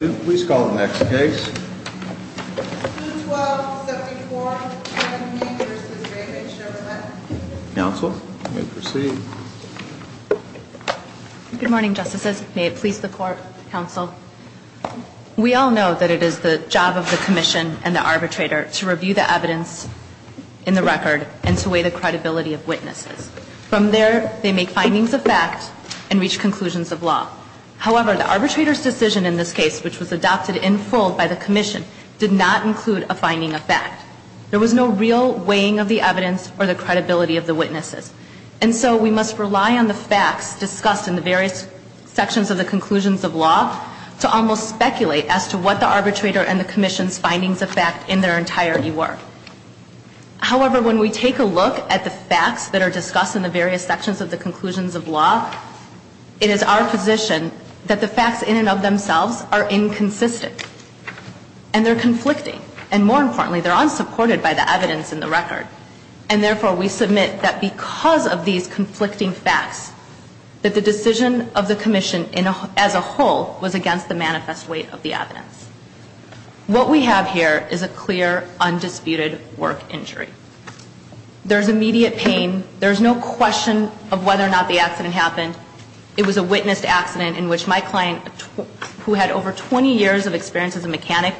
Please call the next case. 212-74 Hain v. Workers' Compensation Comm'n Counsel, you may proceed. Good morning, Justices. May it please the Court, Counsel. We all know that it is the job of the Commission and the arbitrator to review the evidence in the record and to weigh the credibility of witnesses. From there, they make findings of fact and reach conclusions of law. However, the arbitrator's decision in this case, which was adopted in full by the Commission, did not include a finding of fact. There was no real weighing of the evidence or the credibility of the witnesses. And so we must rely on the facts discussed in the various sections of the conclusions of law to almost speculate as to what the arbitrator and the Commission's findings of fact in their entirety were. However, when we take a look at the facts that are discussed in the various sections of the conclusions of law, it is our position that the facts in and of themselves are inconsistent. And they're conflicting. And more importantly, they're unsupported by the evidence in the record. And therefore, we submit that because of these conflicting facts, that the decision of the Commission as a whole was against the manifest weight of the evidence. What we have here is a clear, undisputed work injury. There's immediate pain. There's no question of whether or not the accident happened. It was a witnessed accident in which my client, who had over 20 years of experience as a mechanic,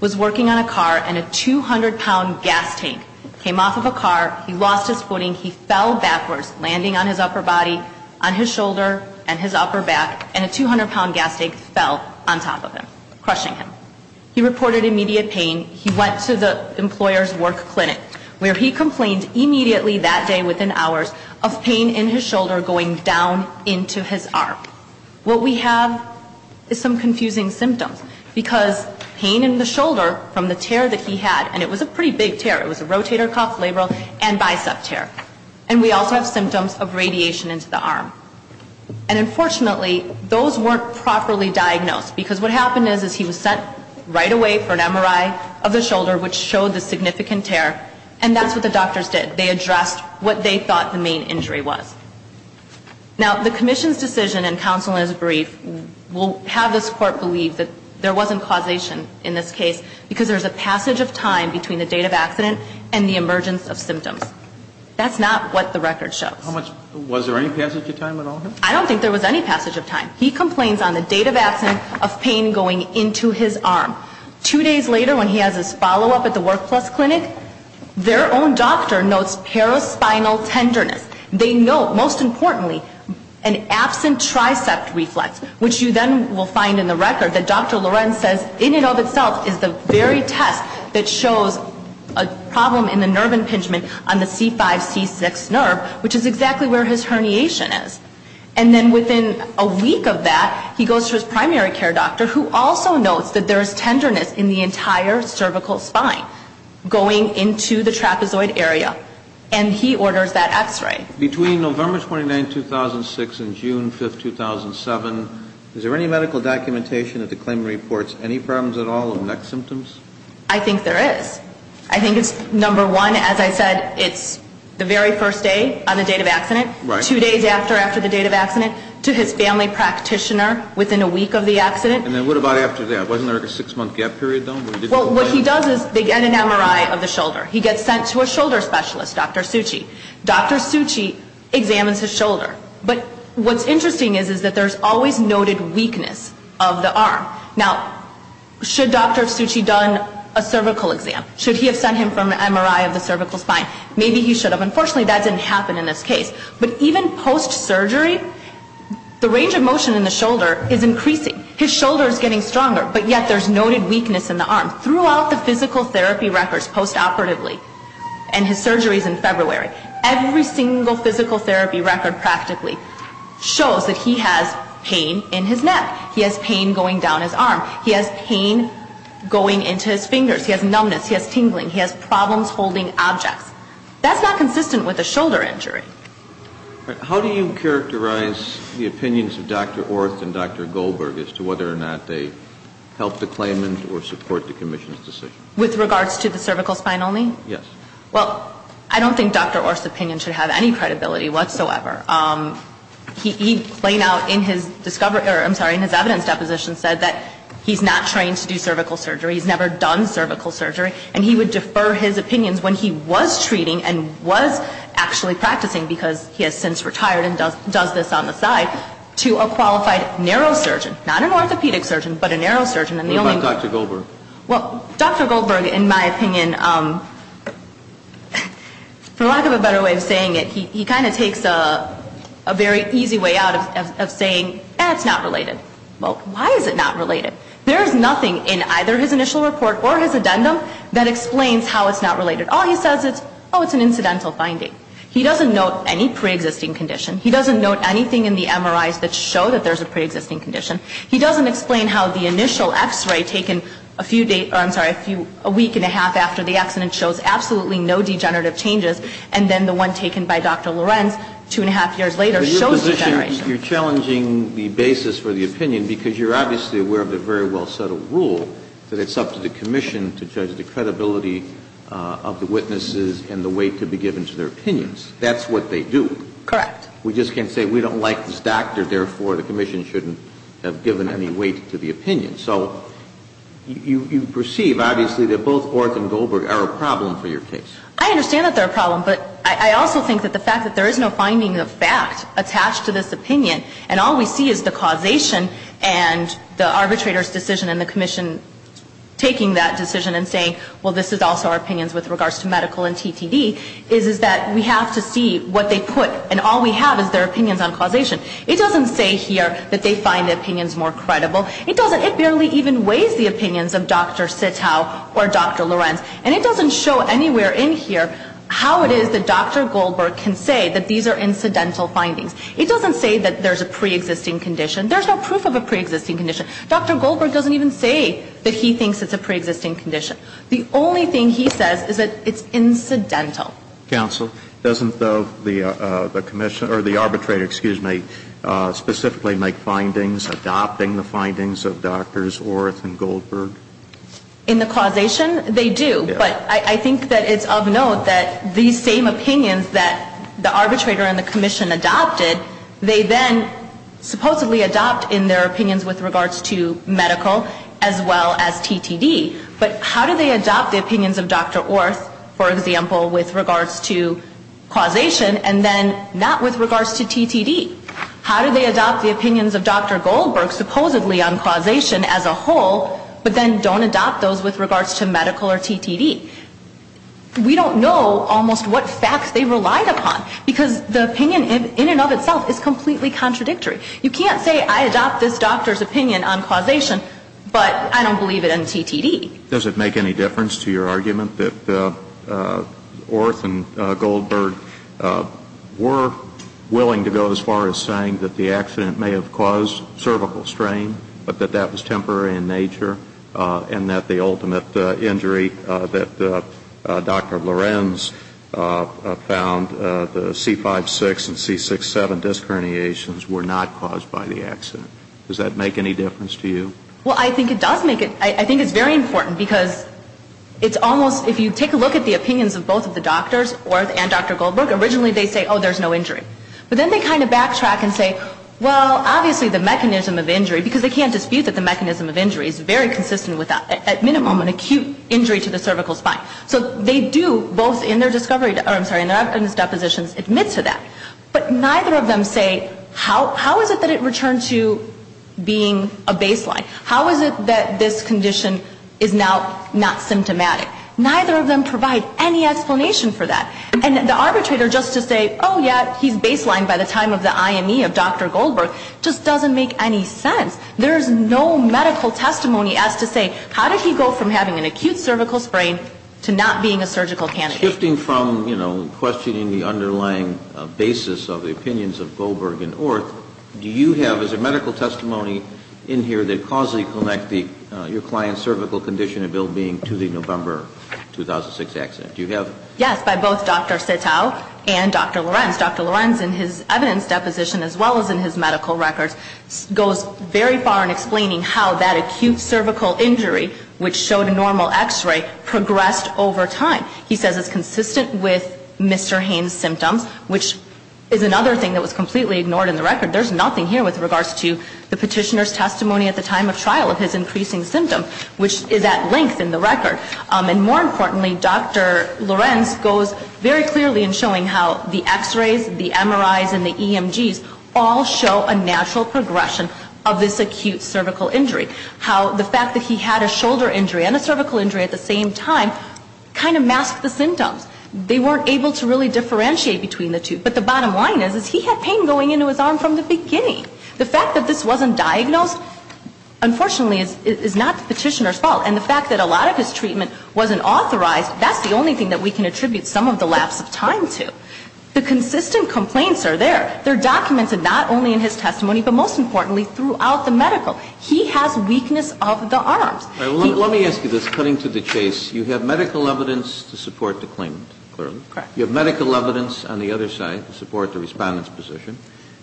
was working on a car and a 200-pound gas tank came off of a car. He lost his footing. He fell backwards, landing on his upper body, on his shoulder and his upper back, and a 200-pound gas tank fell on top of him. Crushing him. He reported immediate pain. He went to the employer's work clinic, where he complained immediately that day within hours of pain in his shoulder going down into his arm. What we have is some confusing symptoms, because pain in the shoulder from the tear that he had, and it was a pretty big tear. It was a rotator cuff, labral, and bicep tear. And we also have symptoms of radiation into the arm. And unfortunately, those weren't properly diagnosed, because what happened is he was sent right away for an MRI of the shoulder, which showed the significant tear. And that's what the doctors did. They addressed what they thought the main injury was. Now, the Commission's decision, and counsel is brief, will have this Court believe that there wasn't causation in this case, because there's a passage of time between the date of accident and the emergence of symptoms. That's not what the record shows. Was there any passage of time at all? I don't think there was any passage of time. He complains on the date of accident of pain going into his arm. Two days later, when he has his follow-up at the Work Plus clinic, their own doctor notes paraspinal tenderness. They note, most importantly, an absent tricep reflex, which you then will find in the record that Dr. Lorenz says, in and of itself, is the very test that shows a problem in the nerve impingement on the C5-C6 nerve, which is exactly where his herniation is. And then within a week of that, he goes to his primary care doctor, who also notes that there is tenderness in the entire cervical spine going into the trapezoid area. And he orders that X-ray. Between November 29, 2006 and June 5, 2007, is there any medical documentation that the claimant reports any problems at all of neck symptoms? I think there is. I think it's, number one, as I said, it's the very first day on the date of accident, two days after after the date of accident, to his family practitioner within a week of the accident. And then what about after that? Wasn't there a six-month gap period, though? Well, what he does is they get an MRI of the shoulder. He gets sent to a shoulder specialist, Dr. Suchi. Dr. Suchi examines his shoulder. But what's interesting is that there's always noted weakness of the arm. Now, should Dr. Suchi have done a cervical exam? Should he have sent him for an MRI of the cervical spine? Maybe he should have. Unfortunately, that didn't happen in this case. But even post-surgery, the range of motion in the shoulder is increasing. His shoulder is getting stronger, but yet there's noted weakness in the arm. Throughout the physical therapy records post-operatively, and his surgery is in February, every single physical therapy record practically shows that he has pain in his neck. He has pain going down his arm. He has pain going into his fingers. He has numbness. He has tingling. He has problems holding objects. That's not consistent with a shoulder injury. How do you characterize the opinions of Dr. Orth and Dr. Goldberg as to whether or not they help the claimant or support the commission's decision? With regards to the cervical spine only? Yes. Well, I don't think Dr. Orth's opinion should have any credibility whatsoever. He laid out in his evidence deposition said that he's not trained to do cervical surgery. He's never done cervical surgery. And he would defer his opinions when he was treating and was actually practicing, because he has since retired and does this on the side, to a qualified neurosurgeon. Not an orthopedic surgeon, but a neurosurgeon. What about Dr. Goldberg? Well, Dr. Goldberg, in my opinion, for lack of a better way of saying it, he kind of takes a very easy way out of saying, eh, it's not related. Well, why is it not related? There is nothing in either his initial report or his addendum that explains how it's not related. All he says is, oh, it's an incidental finding. He doesn't note any preexisting condition. He doesn't note anything in the MRIs that show that there's a preexisting condition. He doesn't explain how the initial X-ray taken a few days or, I'm sorry, a week and a half after the accident shows absolutely no degenerative changes. And then the one taken by Dr. Lorenz two and a half years later shows degeneration. You're challenging the basis for the opinion because you're obviously aware of the very well-settled rule that it's up to the commission to judge the credibility of the witnesses and the weight to be given to their opinions. That's what they do. Correct. We just can't say we don't like this doctor, therefore the commission shouldn't have given any weight to the opinion. So you perceive, obviously, that both Orth and Goldberg are a problem for your case. I understand that they're a problem, but I also think that the fact that there is no finding of fact attached to this opinion and all we see is the causation and the arbitrator's decision and the commission taking that decision and saying, well, this is also our opinions with regards to medical and TTD, is that we have to see what they put. And all we have is their opinions on causation. It doesn't say here that they find the opinions more credible. It doesn't. It barely even weighs the opinions of Dr. Sitow or Dr. Lorenz. And it doesn't show anywhere in here how it is that Dr. Goldberg can say that these are incidental findings. It doesn't say that there's a preexisting condition. There's no proof of a preexisting condition. Dr. Goldberg doesn't even say that he thinks it's a preexisting condition. The only thing he says is that it's incidental. Counsel, doesn't the commission or the arbitrator, excuse me, specifically make findings adopting the findings of Drs. Orth and Goldberg? In the causation? They do. But I think that it's of note that these same opinions that the arbitrator and the commission adopted, they then supposedly adopt in their opinions with regards to medical as well as TTD. But how do they adopt the opinions of Dr. Orth, for example, with regards to causation and then not with regards to TTD? How do they adopt the opinions of Dr. Goldberg supposedly on causation as a whole, but then don't adopt those with regards to medical or TTD? We don't know almost what facts they relied upon because the opinion in and of itself is completely contradictory. You can't say I adopt this doctor's opinion on causation, but I don't believe it in TTD. Does it make any difference to your argument that Orth and Goldberg were willing to go as far as saying that the accident may have caused cervical strain, but that that was temporary in nature, and that the ultimate injury that Dr. Lorenz found, the C5-6 and C6-7 disc herniations, were not caused by the accident? Does that make any difference to you? Well, I think it does make it, I think it's very important because it's almost, if you take a look at the opinions of both of the doctors, Orth and Dr. Goldberg, originally they say, oh, there's no injury. But then they kind of backtrack and say, well, obviously the mechanism of injury, because they can't dispute that the mechanism of injury is very consistent with that, at minimum an acute injury to the cervical spine. So they do, both in their discovery, I'm sorry, in their evidence depositions, admit to that. But neither of them say, how is it that it returned to being a baseline? How is it that this condition is now not symptomatic? Neither of them provide any explanation for that. And the arbitrator just to say, oh, yeah, he's baseline by the time of the IME of Dr. Goldberg, just doesn't make any sense. There's no medical testimony as to say, how did he go from having an acute cervical sprain to not being a surgical candidate? So shifting from, you know, questioning the underlying basis of the opinions of Goldberg and Orth, do you have, is there medical testimony in here that causally connects your client's cervical condition and ill-being to the November 2006 accident? Do you have? Yes, by both Dr. Sitow and Dr. Lorenz. Dr. Lorenz, in his evidence deposition as well as in his medical records, goes very far in explaining how that acute cervical injury, which showed normal X-ray, progressed over time. He says it's consistent with Mr. Haynes' symptoms, which is another thing that was completely ignored in the record. There's nothing here with regards to the petitioner's testimony at the time of trial of his increasing symptom, which is at length in the record. And more importantly, Dr. Lorenz goes very clearly in showing how the X-rays, the MRIs, and the EMGs all show a natural progression of this acute cervical injury. How the fact that he had a shoulder injury and a cervical injury at the same time kind of masked the symptoms. They weren't able to really differentiate between the two. But the bottom line is, is he had pain going into his arm from the beginning. The fact that this wasn't diagnosed, unfortunately, is not the petitioner's fault. And the fact that a lot of his treatment wasn't authorized, that's the only thing that we can attribute some of the lapse of time to. The consistent complaints are there. They're documented not only in his testimony, but most importantly, throughout the medical. He has weakness of the arms. Kennedy. Let me ask you this, cutting to the chase. You have medical evidence to support the claimant, clearly. Correct. You have medical evidence on the other side to support the Respondent's position.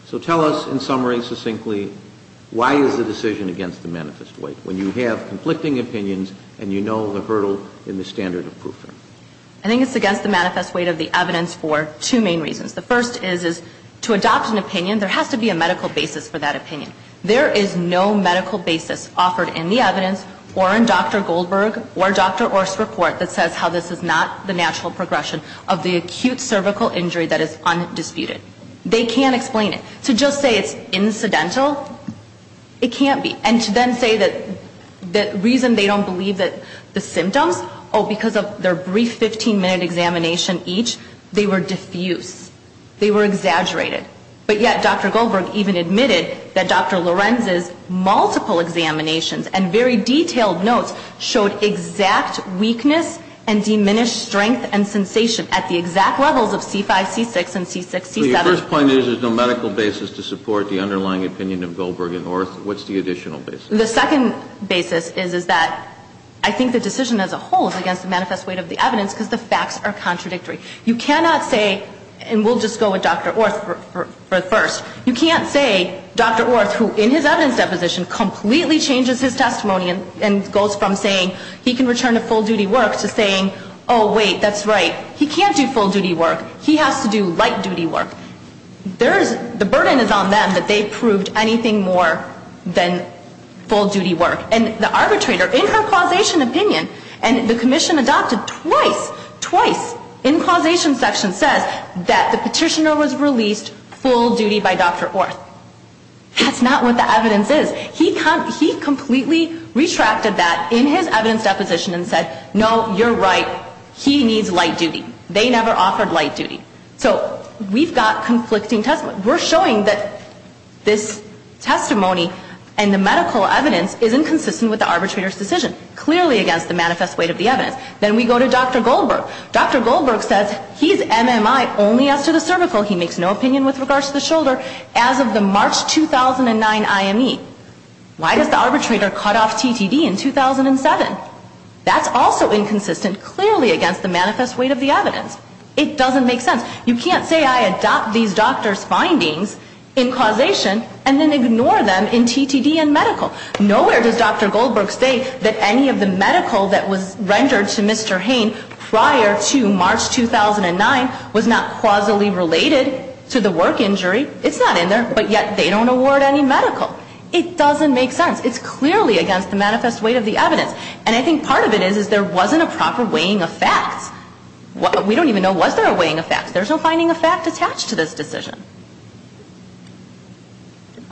So tell us, in summary, succinctly, why is the decision against the manifest weight, when you have conflicting opinions and you know the hurdle in the standard of proof? I think it's against the manifest weight of the evidence for two main reasons. The first is, is to adopt an opinion, there has to be a medical basis for that opinion. There is no medical basis offered in the evidence or in Dr. Goldberg or Dr. Orr's report that says how this is not the natural progression of the acute cervical injury that is undisputed. They can't explain it. To just say it's incidental, it can't be. And to then say that the reason they don't believe the symptoms, oh, because of their brief 15-minute examination each, they were diffuse. They were exaggerated. But yet Dr. Goldberg even admitted that Dr. Lorenz's multiple examinations and very detailed notes showed exact weakness and diminished strength and sensation at the exact levels of C5, C6, and C6, C7. So your first point is there's no medical basis to support the underlying opinion of Goldberg and Orr. What's the additional basis? The second basis is that I think the decision as a whole is against the manifest weight of the evidence because the facts are contradictory. You cannot say, and we'll just go with Dr. Orr first, you can't say Dr. Orr, who in his evidence deposition completely changes his testimony and goes from saying he can return to full-duty work to saying, oh, wait, that's right, he can't do full-duty work, he has to do light-duty work. The burden is on them that they proved anything more than full-duty work. And the arbitrator, in her causation opinion, and the commission adopted twice, twice in causation section says that the petitioner was released full-duty by Dr. Orr. That's not what the evidence is. He completely retracted that in his evidence deposition and said, no, you're right, he needs light-duty. They never offered light-duty. So we've got conflicting testimony. We're showing that this testimony and the medical evidence isn't consistent with the arbitrator's decision, clearly against the manifest weight of the evidence. Then we go to Dr. Goldberg. Dr. Goldberg says he's MMI only as to the cervical, he makes no opinion with regards to the shoulder, as of the March 2009 IME. Why does the arbitrator cut off TTD in 2007? That's also inconsistent, clearly against the manifest weight of the evidence. It doesn't make sense. You can't say I adopt these doctors' findings in causation and then ignore them in TTD and medical. Nowhere does Dr. Goldberg say that any of the medical that was rendered to Mr. Hain prior to March 2009 was not causally related to the work injury. It's not in there, but yet they don't award any medical. It doesn't make sense. It's clearly against the manifest weight of the evidence. And I think part of it is there wasn't a proper weighing of facts. We don't even know was there a weighing of facts. There's no finding of fact attached to this decision.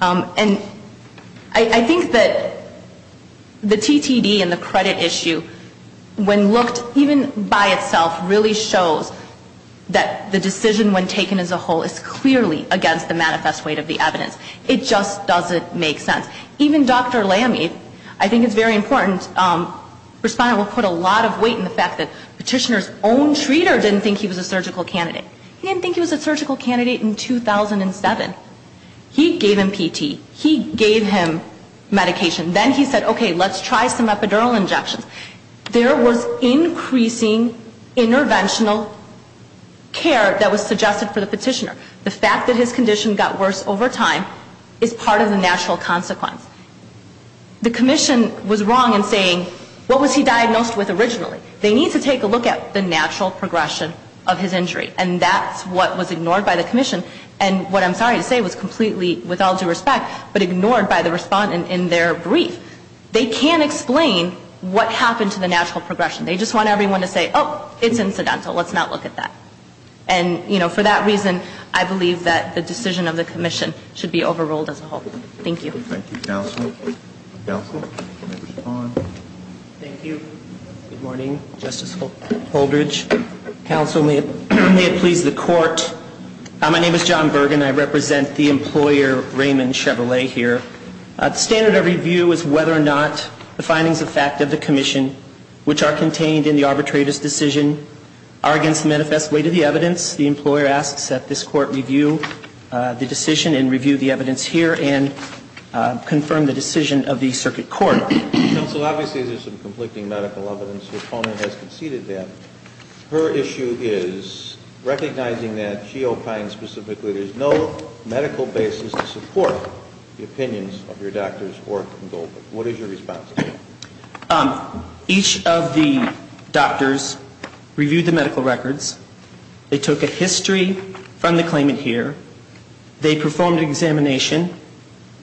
And I think that the TTD and the credit issue, when looked even by itself, really shows that the decision when taken as a whole is clearly against the manifest weight of the evidence. It just doesn't make sense. Even Dr. Lamy, I think it's very important, respondent will put a lot of weight in the fact that petitioner's own treater didn't think he was a surgical candidate. He didn't think he was a surgical candidate in 2007. He gave him PT. He gave him medication. Then he said, okay, let's try some epidural injections. There was increasing interventional care that was suggested for the petitioner. The fact that his condition got worse over time is part of the natural consequence. The commission was wrong in saying what was he diagnosed with originally? They need to take a look at the natural progression of his injury. And that's what was ignored by the commission. And what I'm sorry to say was completely with all due respect, but ignored by the respondent in their brief. They can't explain what happened to the natural progression. They just want everyone to say, oh, it's incidental. Let's not look at that. And, you know, for that reason, I believe that the decision of the commission should be overruled as a whole. Thank you. Thank you, counsel. Counsel, respond. Thank you. Good morning. Justice Holdridge. Counsel, may it please the court, my name is John Bergen. I represent the employer Raymond Chevrolet here. The standard of review is whether or not the findings of fact of the commission, which are contained in the arbitrator's decision, are against the manifest weight of the evidence. The employer asks that this court review the decision and review the evidence here and confirm the decision of the circuit court. Counsel, obviously there's some conflicting medical evidence. The opponent has conceded that. Her issue is recognizing that she opines specifically there's no medical basis to support the opinions of your doctors, what is your response to that? Each of the doctors reviewed the medical records. They took a history from the claimant here. They performed an examination.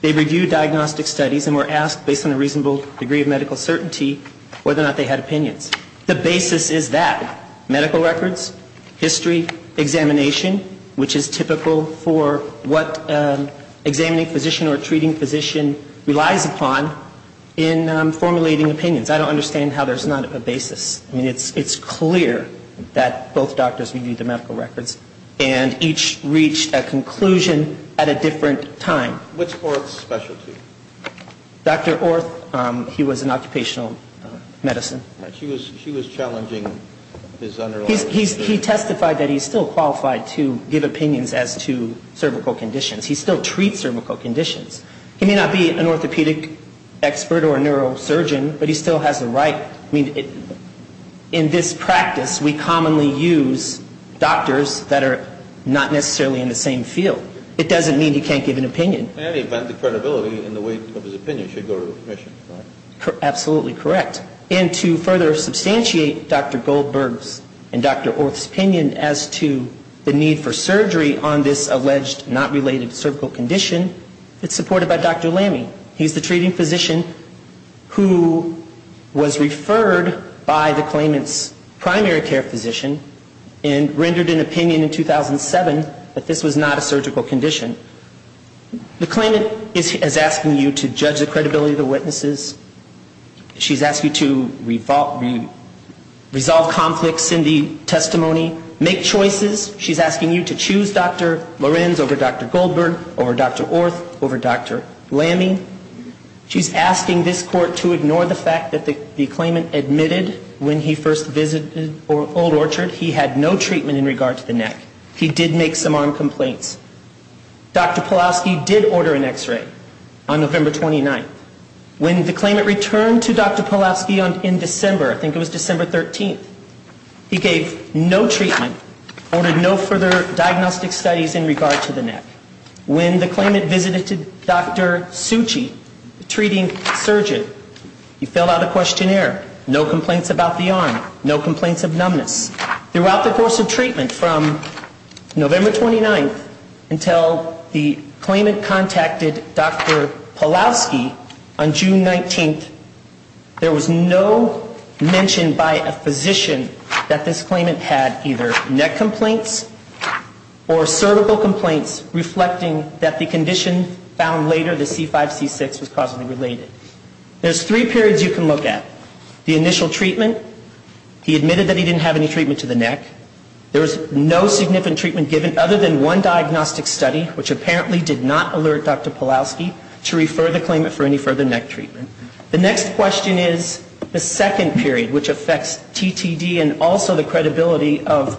They reviewed diagnostic studies and were asked based on a reasonable degree of medical certainty whether or not they had opinions. The basis is that, medical records, history, examination, which is typical for what examining physician or treating physician relies upon in formulating opinions. I don't understand how there's not a basis. I mean, it's clear that both doctors reviewed the medical records and each reached a conclusion at a different time. What's Orth's specialty? Dr. Orth, he was in occupational medicine. She was challenging his underlying... He testified that he's still qualified to give opinions as to cervical conditions. He still treats cervical conditions. He may not be an orthopedic expert or a neurosurgeon, but he still has the right. I mean, in this practice, we commonly use doctors that are not necessarily in the same field. It doesn't mean he can't give an opinion. In any event, the credibility and the weight of his opinion should go to the commission, right? Absolutely correct. And to further substantiate Dr. Goldberg's and Dr. Orth's opinion as to the need for surgery on this alleged not-related cervical condition, it's supported by Dr. Lamme. He's the treating physician who was referred by the claimant's primary care physician and rendered an opinion in 2007 that this was not a surgical condition. The claimant is asking you to judge the credibility of the witnesses. She's asking you to resolve conflicts in the testimony, make choices. She's asking you to choose Dr. Lorenz over Dr. Goldberg, over Dr. Orth, over Dr. Lamme. She's asking this court to ignore the fact that the claimant admitted when he first visited Old Orchard he had no treatment in regard to the neck. He did make some arm complaints. Dr. Pawlowski did order an X-ray on November 29th. When the claimant returned to Dr. Pawlowski in December, I think it was December 13th, he gave no treatment, ordered no further diagnostic studies in regard to the neck. When the claimant visited Dr. Suchi, the treating surgeon, he filled out a questionnaire. No complaints about the arm. No complaints of numbness. Throughout the course of treatment from November 29th until the claimant contacted Dr. Pawlowski on June 19th, there was no mention by a physician that this claimant had either neck complaints or cervical complaints, reflecting that the condition found later, the C5-C6, was causally related. There's three periods you can look at. The initial treatment, he admitted that he didn't have any treatment to the neck. There was no significant treatment given other than one diagnostic study, which apparently did not alert Dr. Pawlowski to refer the claimant for any further neck treatment. The next question is the second period, which affects TTD and also the credibility of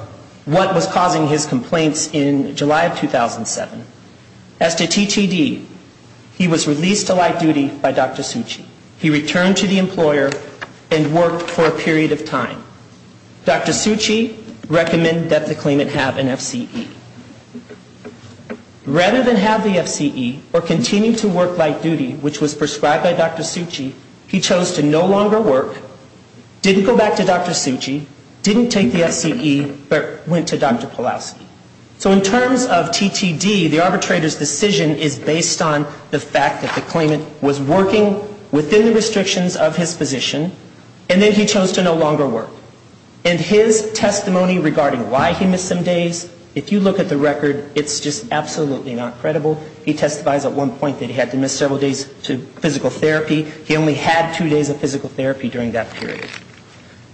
what was causing his complaints in July of 2007. As to TTD, he was released to light duty by Dr. Suchi. He returned to the employer and worked for a period of time. Dr. Suchi recommended that the claimant have an FCE. Rather than have the FCE or continue to work light duty, which was prescribed by Dr. Suchi, he chose to no longer work, didn't go back to Dr. Suchi, didn't take the FCE, but went to Dr. Pawlowski. So in terms of TTD, the arbitrator's decision is based on the fact that the claimant was working within the restrictions of his position, and then he chose to no longer work. And his testimony regarding why he missed some days, if you look at the record, it's just absolutely not credible. He testifies at one point that he had to miss several days to physical therapy. He only had two days of physical therapy during that period.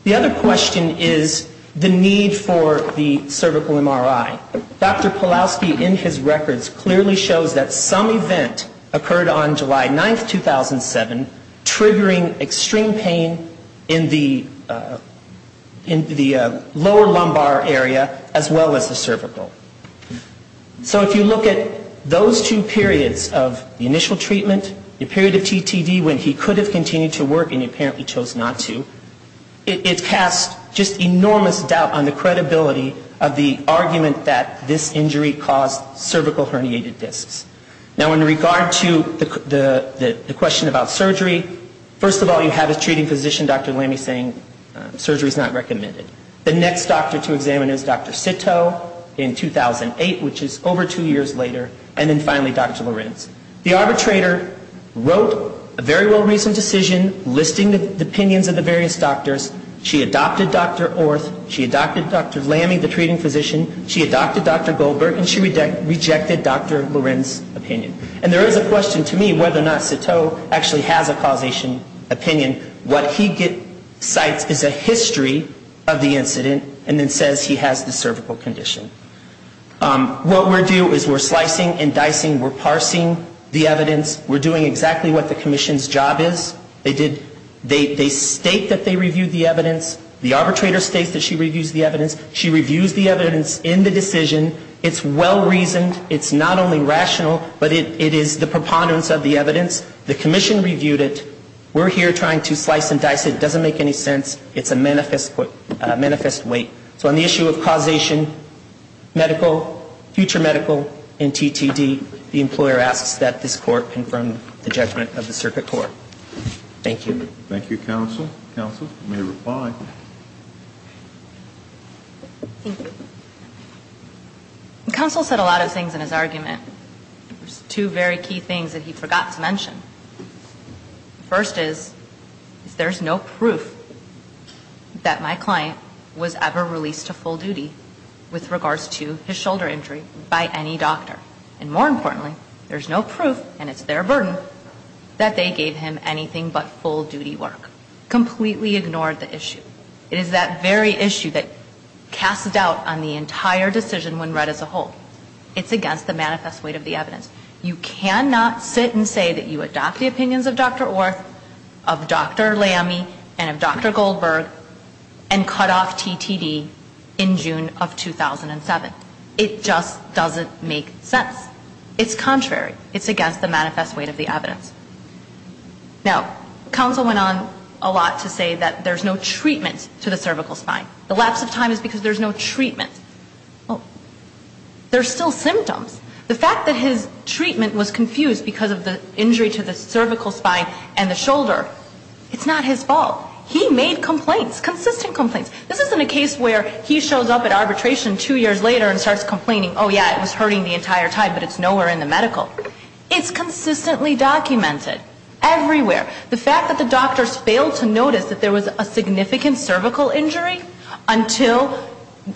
The other question is the need for the cervical MRI. Dr. Pawlowski in his records clearly shows that some event occurred on July 9, 2007, triggering extreme pain in the lower lumbar area as well as the cervical. So if you look at those two periods of the initial treatment, the period of TTD when he could have continued to work and he apparently chose not to, it casts just enormous doubt on the credibility of the argument that this injury caused cervical herniated discs. Now in regard to the question about surgery, first of all you have a treating physician, Dr. Lamy, saying surgery is not recommended. The next doctor to examine is Dr. Sittow in 2008, which is over two years later, and then finally Dr. Lorenz. The arbitrator wrote a very well-reasoned decision listing the opinions of the various doctors. She adopted Dr. Orth, she adopted Dr. Lamy, the treating physician, she adopted Dr. Goldberg, and she rejected Dr. Lorenz's opinion. And there is a question to me whether or not Sittow actually has a causation opinion. What he cites is a history of the incident and then says he has the cervical condition. What we do is we're slicing and dicing, we're parsing the evidence, we're doing exactly what the commission's job is. They state that they reviewed the evidence, the arbitrator states that she reviews the evidence, she reviews the evidence in the decision, it's well-reasoned, it's not only rational, but it is the preponderance of the evidence, the commission reviewed it, we're here trying to slice and dice it, it doesn't make any sense, it's a manifest weight. So on the issue of causation, medical, future medical, and TTD, the employer asks that this court confirm the judgment of the circuit court. Thank you. Thank you, counsel. Counsel, you may reply. Thank you. Counsel said a lot of things in his argument. There's two very key things that he forgot to mention. First is, there's no proof that my client was ever released to full duty with regards to his shoulder injury by any doctor. And more importantly, there's no proof, and it's their burden, that they gave him anything but full duty work. Completely ignored the issue. It is that very issue that casts doubt on the entire decision when read as a whole. It's against the manifest weight of the evidence. You cannot sit and say that you adopt the opinions of Dr. Orth, of Dr. Lamme, and of Dr. Goldberg, and cut off TTD in June of 2007. It just doesn't make sense. It's contrary. It's against the manifest weight of the evidence. Now, counsel went on a lot to say that there's no treatment to the cervical spine. The lapse of time is because there's no treatment. Well, there's still symptoms. The fact that his treatment was confused because of the injury to the cervical spine and the shoulder, it's not his fault. He made complaints, consistent complaints. This isn't a case where he shows up at arbitration two years later and starts complaining, oh, yeah, it was hurting the entire time, but it's nowhere in the medical. It's consistently documented. Everywhere. The fact that the doctors failed to notice that there was a significant cervical injury until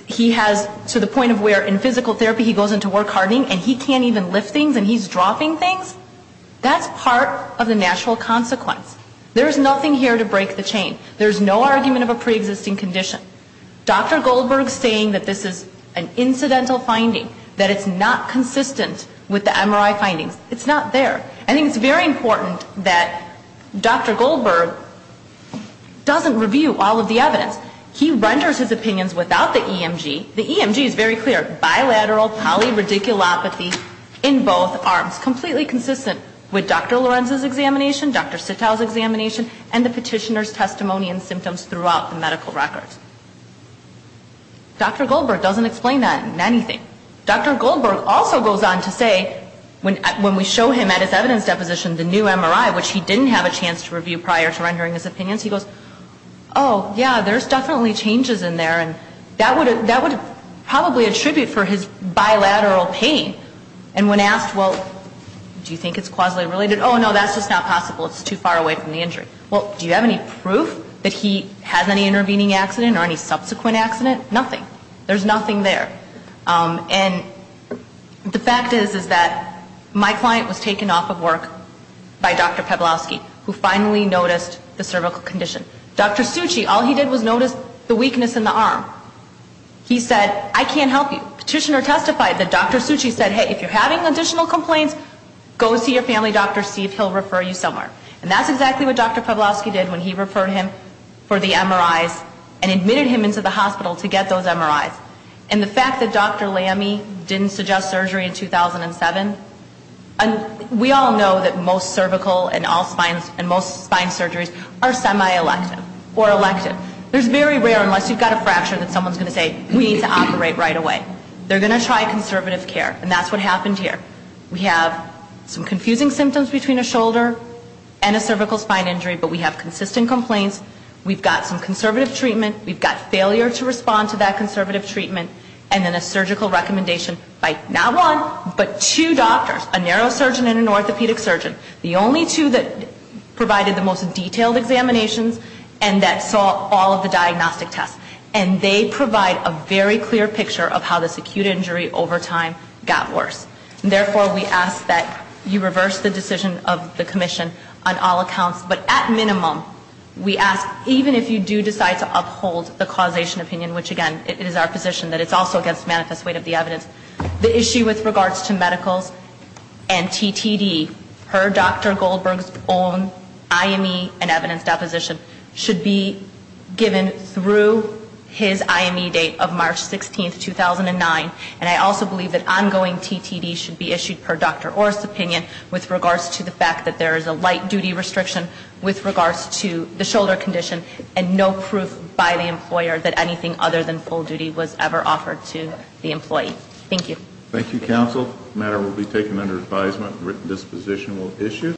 he has to the point of where in physical therapy he goes into work hardening, and he can't even lift things, and he's dropping things, that's part of the natural consequence. There is nothing here to break the chain. There's no argument of a preexisting condition. Dr. Goldberg saying that this is an incidental finding, that it's not consistent with the MRI findings, it's not there. I think it's very important that Dr. Goldberg doesn't review all of the evidence. He renders his opinions without the EMG. The EMG is very clear. Bilateral polyradiculopathy in both arms. It's completely consistent with Dr. Lorenzo's examination, Dr. Sitow's examination, and the petitioner's testimony and symptoms throughout the medical records. Dr. Goldberg doesn't explain that in anything. Dr. Goldberg also goes on to say when we show him at his evidence deposition the new MRI, which he didn't have a chance to review prior to rendering his opinions, he goes, oh, yeah, there's definitely changes in there, and that would probably attribute for his bilateral pain. And when asked, well, do you think it's causally related? Oh, no, that's just not possible. It's too far away from the injury. Well, do you have any proof that he has any intervening accident or any subsequent accident? Nothing. There's nothing there. And the fact is, is that my client was taken off of work by Dr. Peblowski, who finally noticed the cervical condition. Dr. Suchi, all he did was notice the weakness in the arm. He said, I can't help you. The petitioner testified that Dr. Suchi said, hey, if you're having additional complaints, go see your family doctor. See if he'll refer you somewhere. And that's exactly what Dr. Peblowski did when he referred him for the MRIs and admitted him into the hospital to get those MRIs. And the fact that Dr. Lamy didn't suggest surgery in 2007, we all know that most cervical and all spine and most spine surgeries are semi-elective or elective. There's very rare, unless you've got a fracture, that someone's going to say, we need to operate right away. They're going to try conservative care. And that's what happened here. We have some confusing symptoms between a shoulder and a cervical spine injury, but we have consistent complaints. We've got some conservative treatment. We've got failure to respond to that conservative treatment. And then a surgical recommendation by not one, but two doctors, a neurosurgeon and an orthopedic surgeon. The only two that provided the most detailed examinations and that saw all of the diagnostic tests. And they provide a very clear picture of how this acute injury over time got worse. Therefore, we ask that you reverse the decision of the commission on all accounts. But at minimum, we ask, even if you do decide to uphold the causation opinion, which, again, it is our position that it's also against manifest weight of the evidence, the issue with regards to medicals and TTD, per Dr. Goldberg's own IME and evidence deposition, should be given through his IME date of March 16th, 2009. And I also believe that ongoing TTD should be issued per Dr. Orr's opinion with regards to the fact that there is a light-duty restriction with regards to the shoulder condition and no proof by the employer that anything other than full duty was ever offered to the employee. Thank you. Thank you, counsel. The matter will be taken under advisement and written disposition will issue.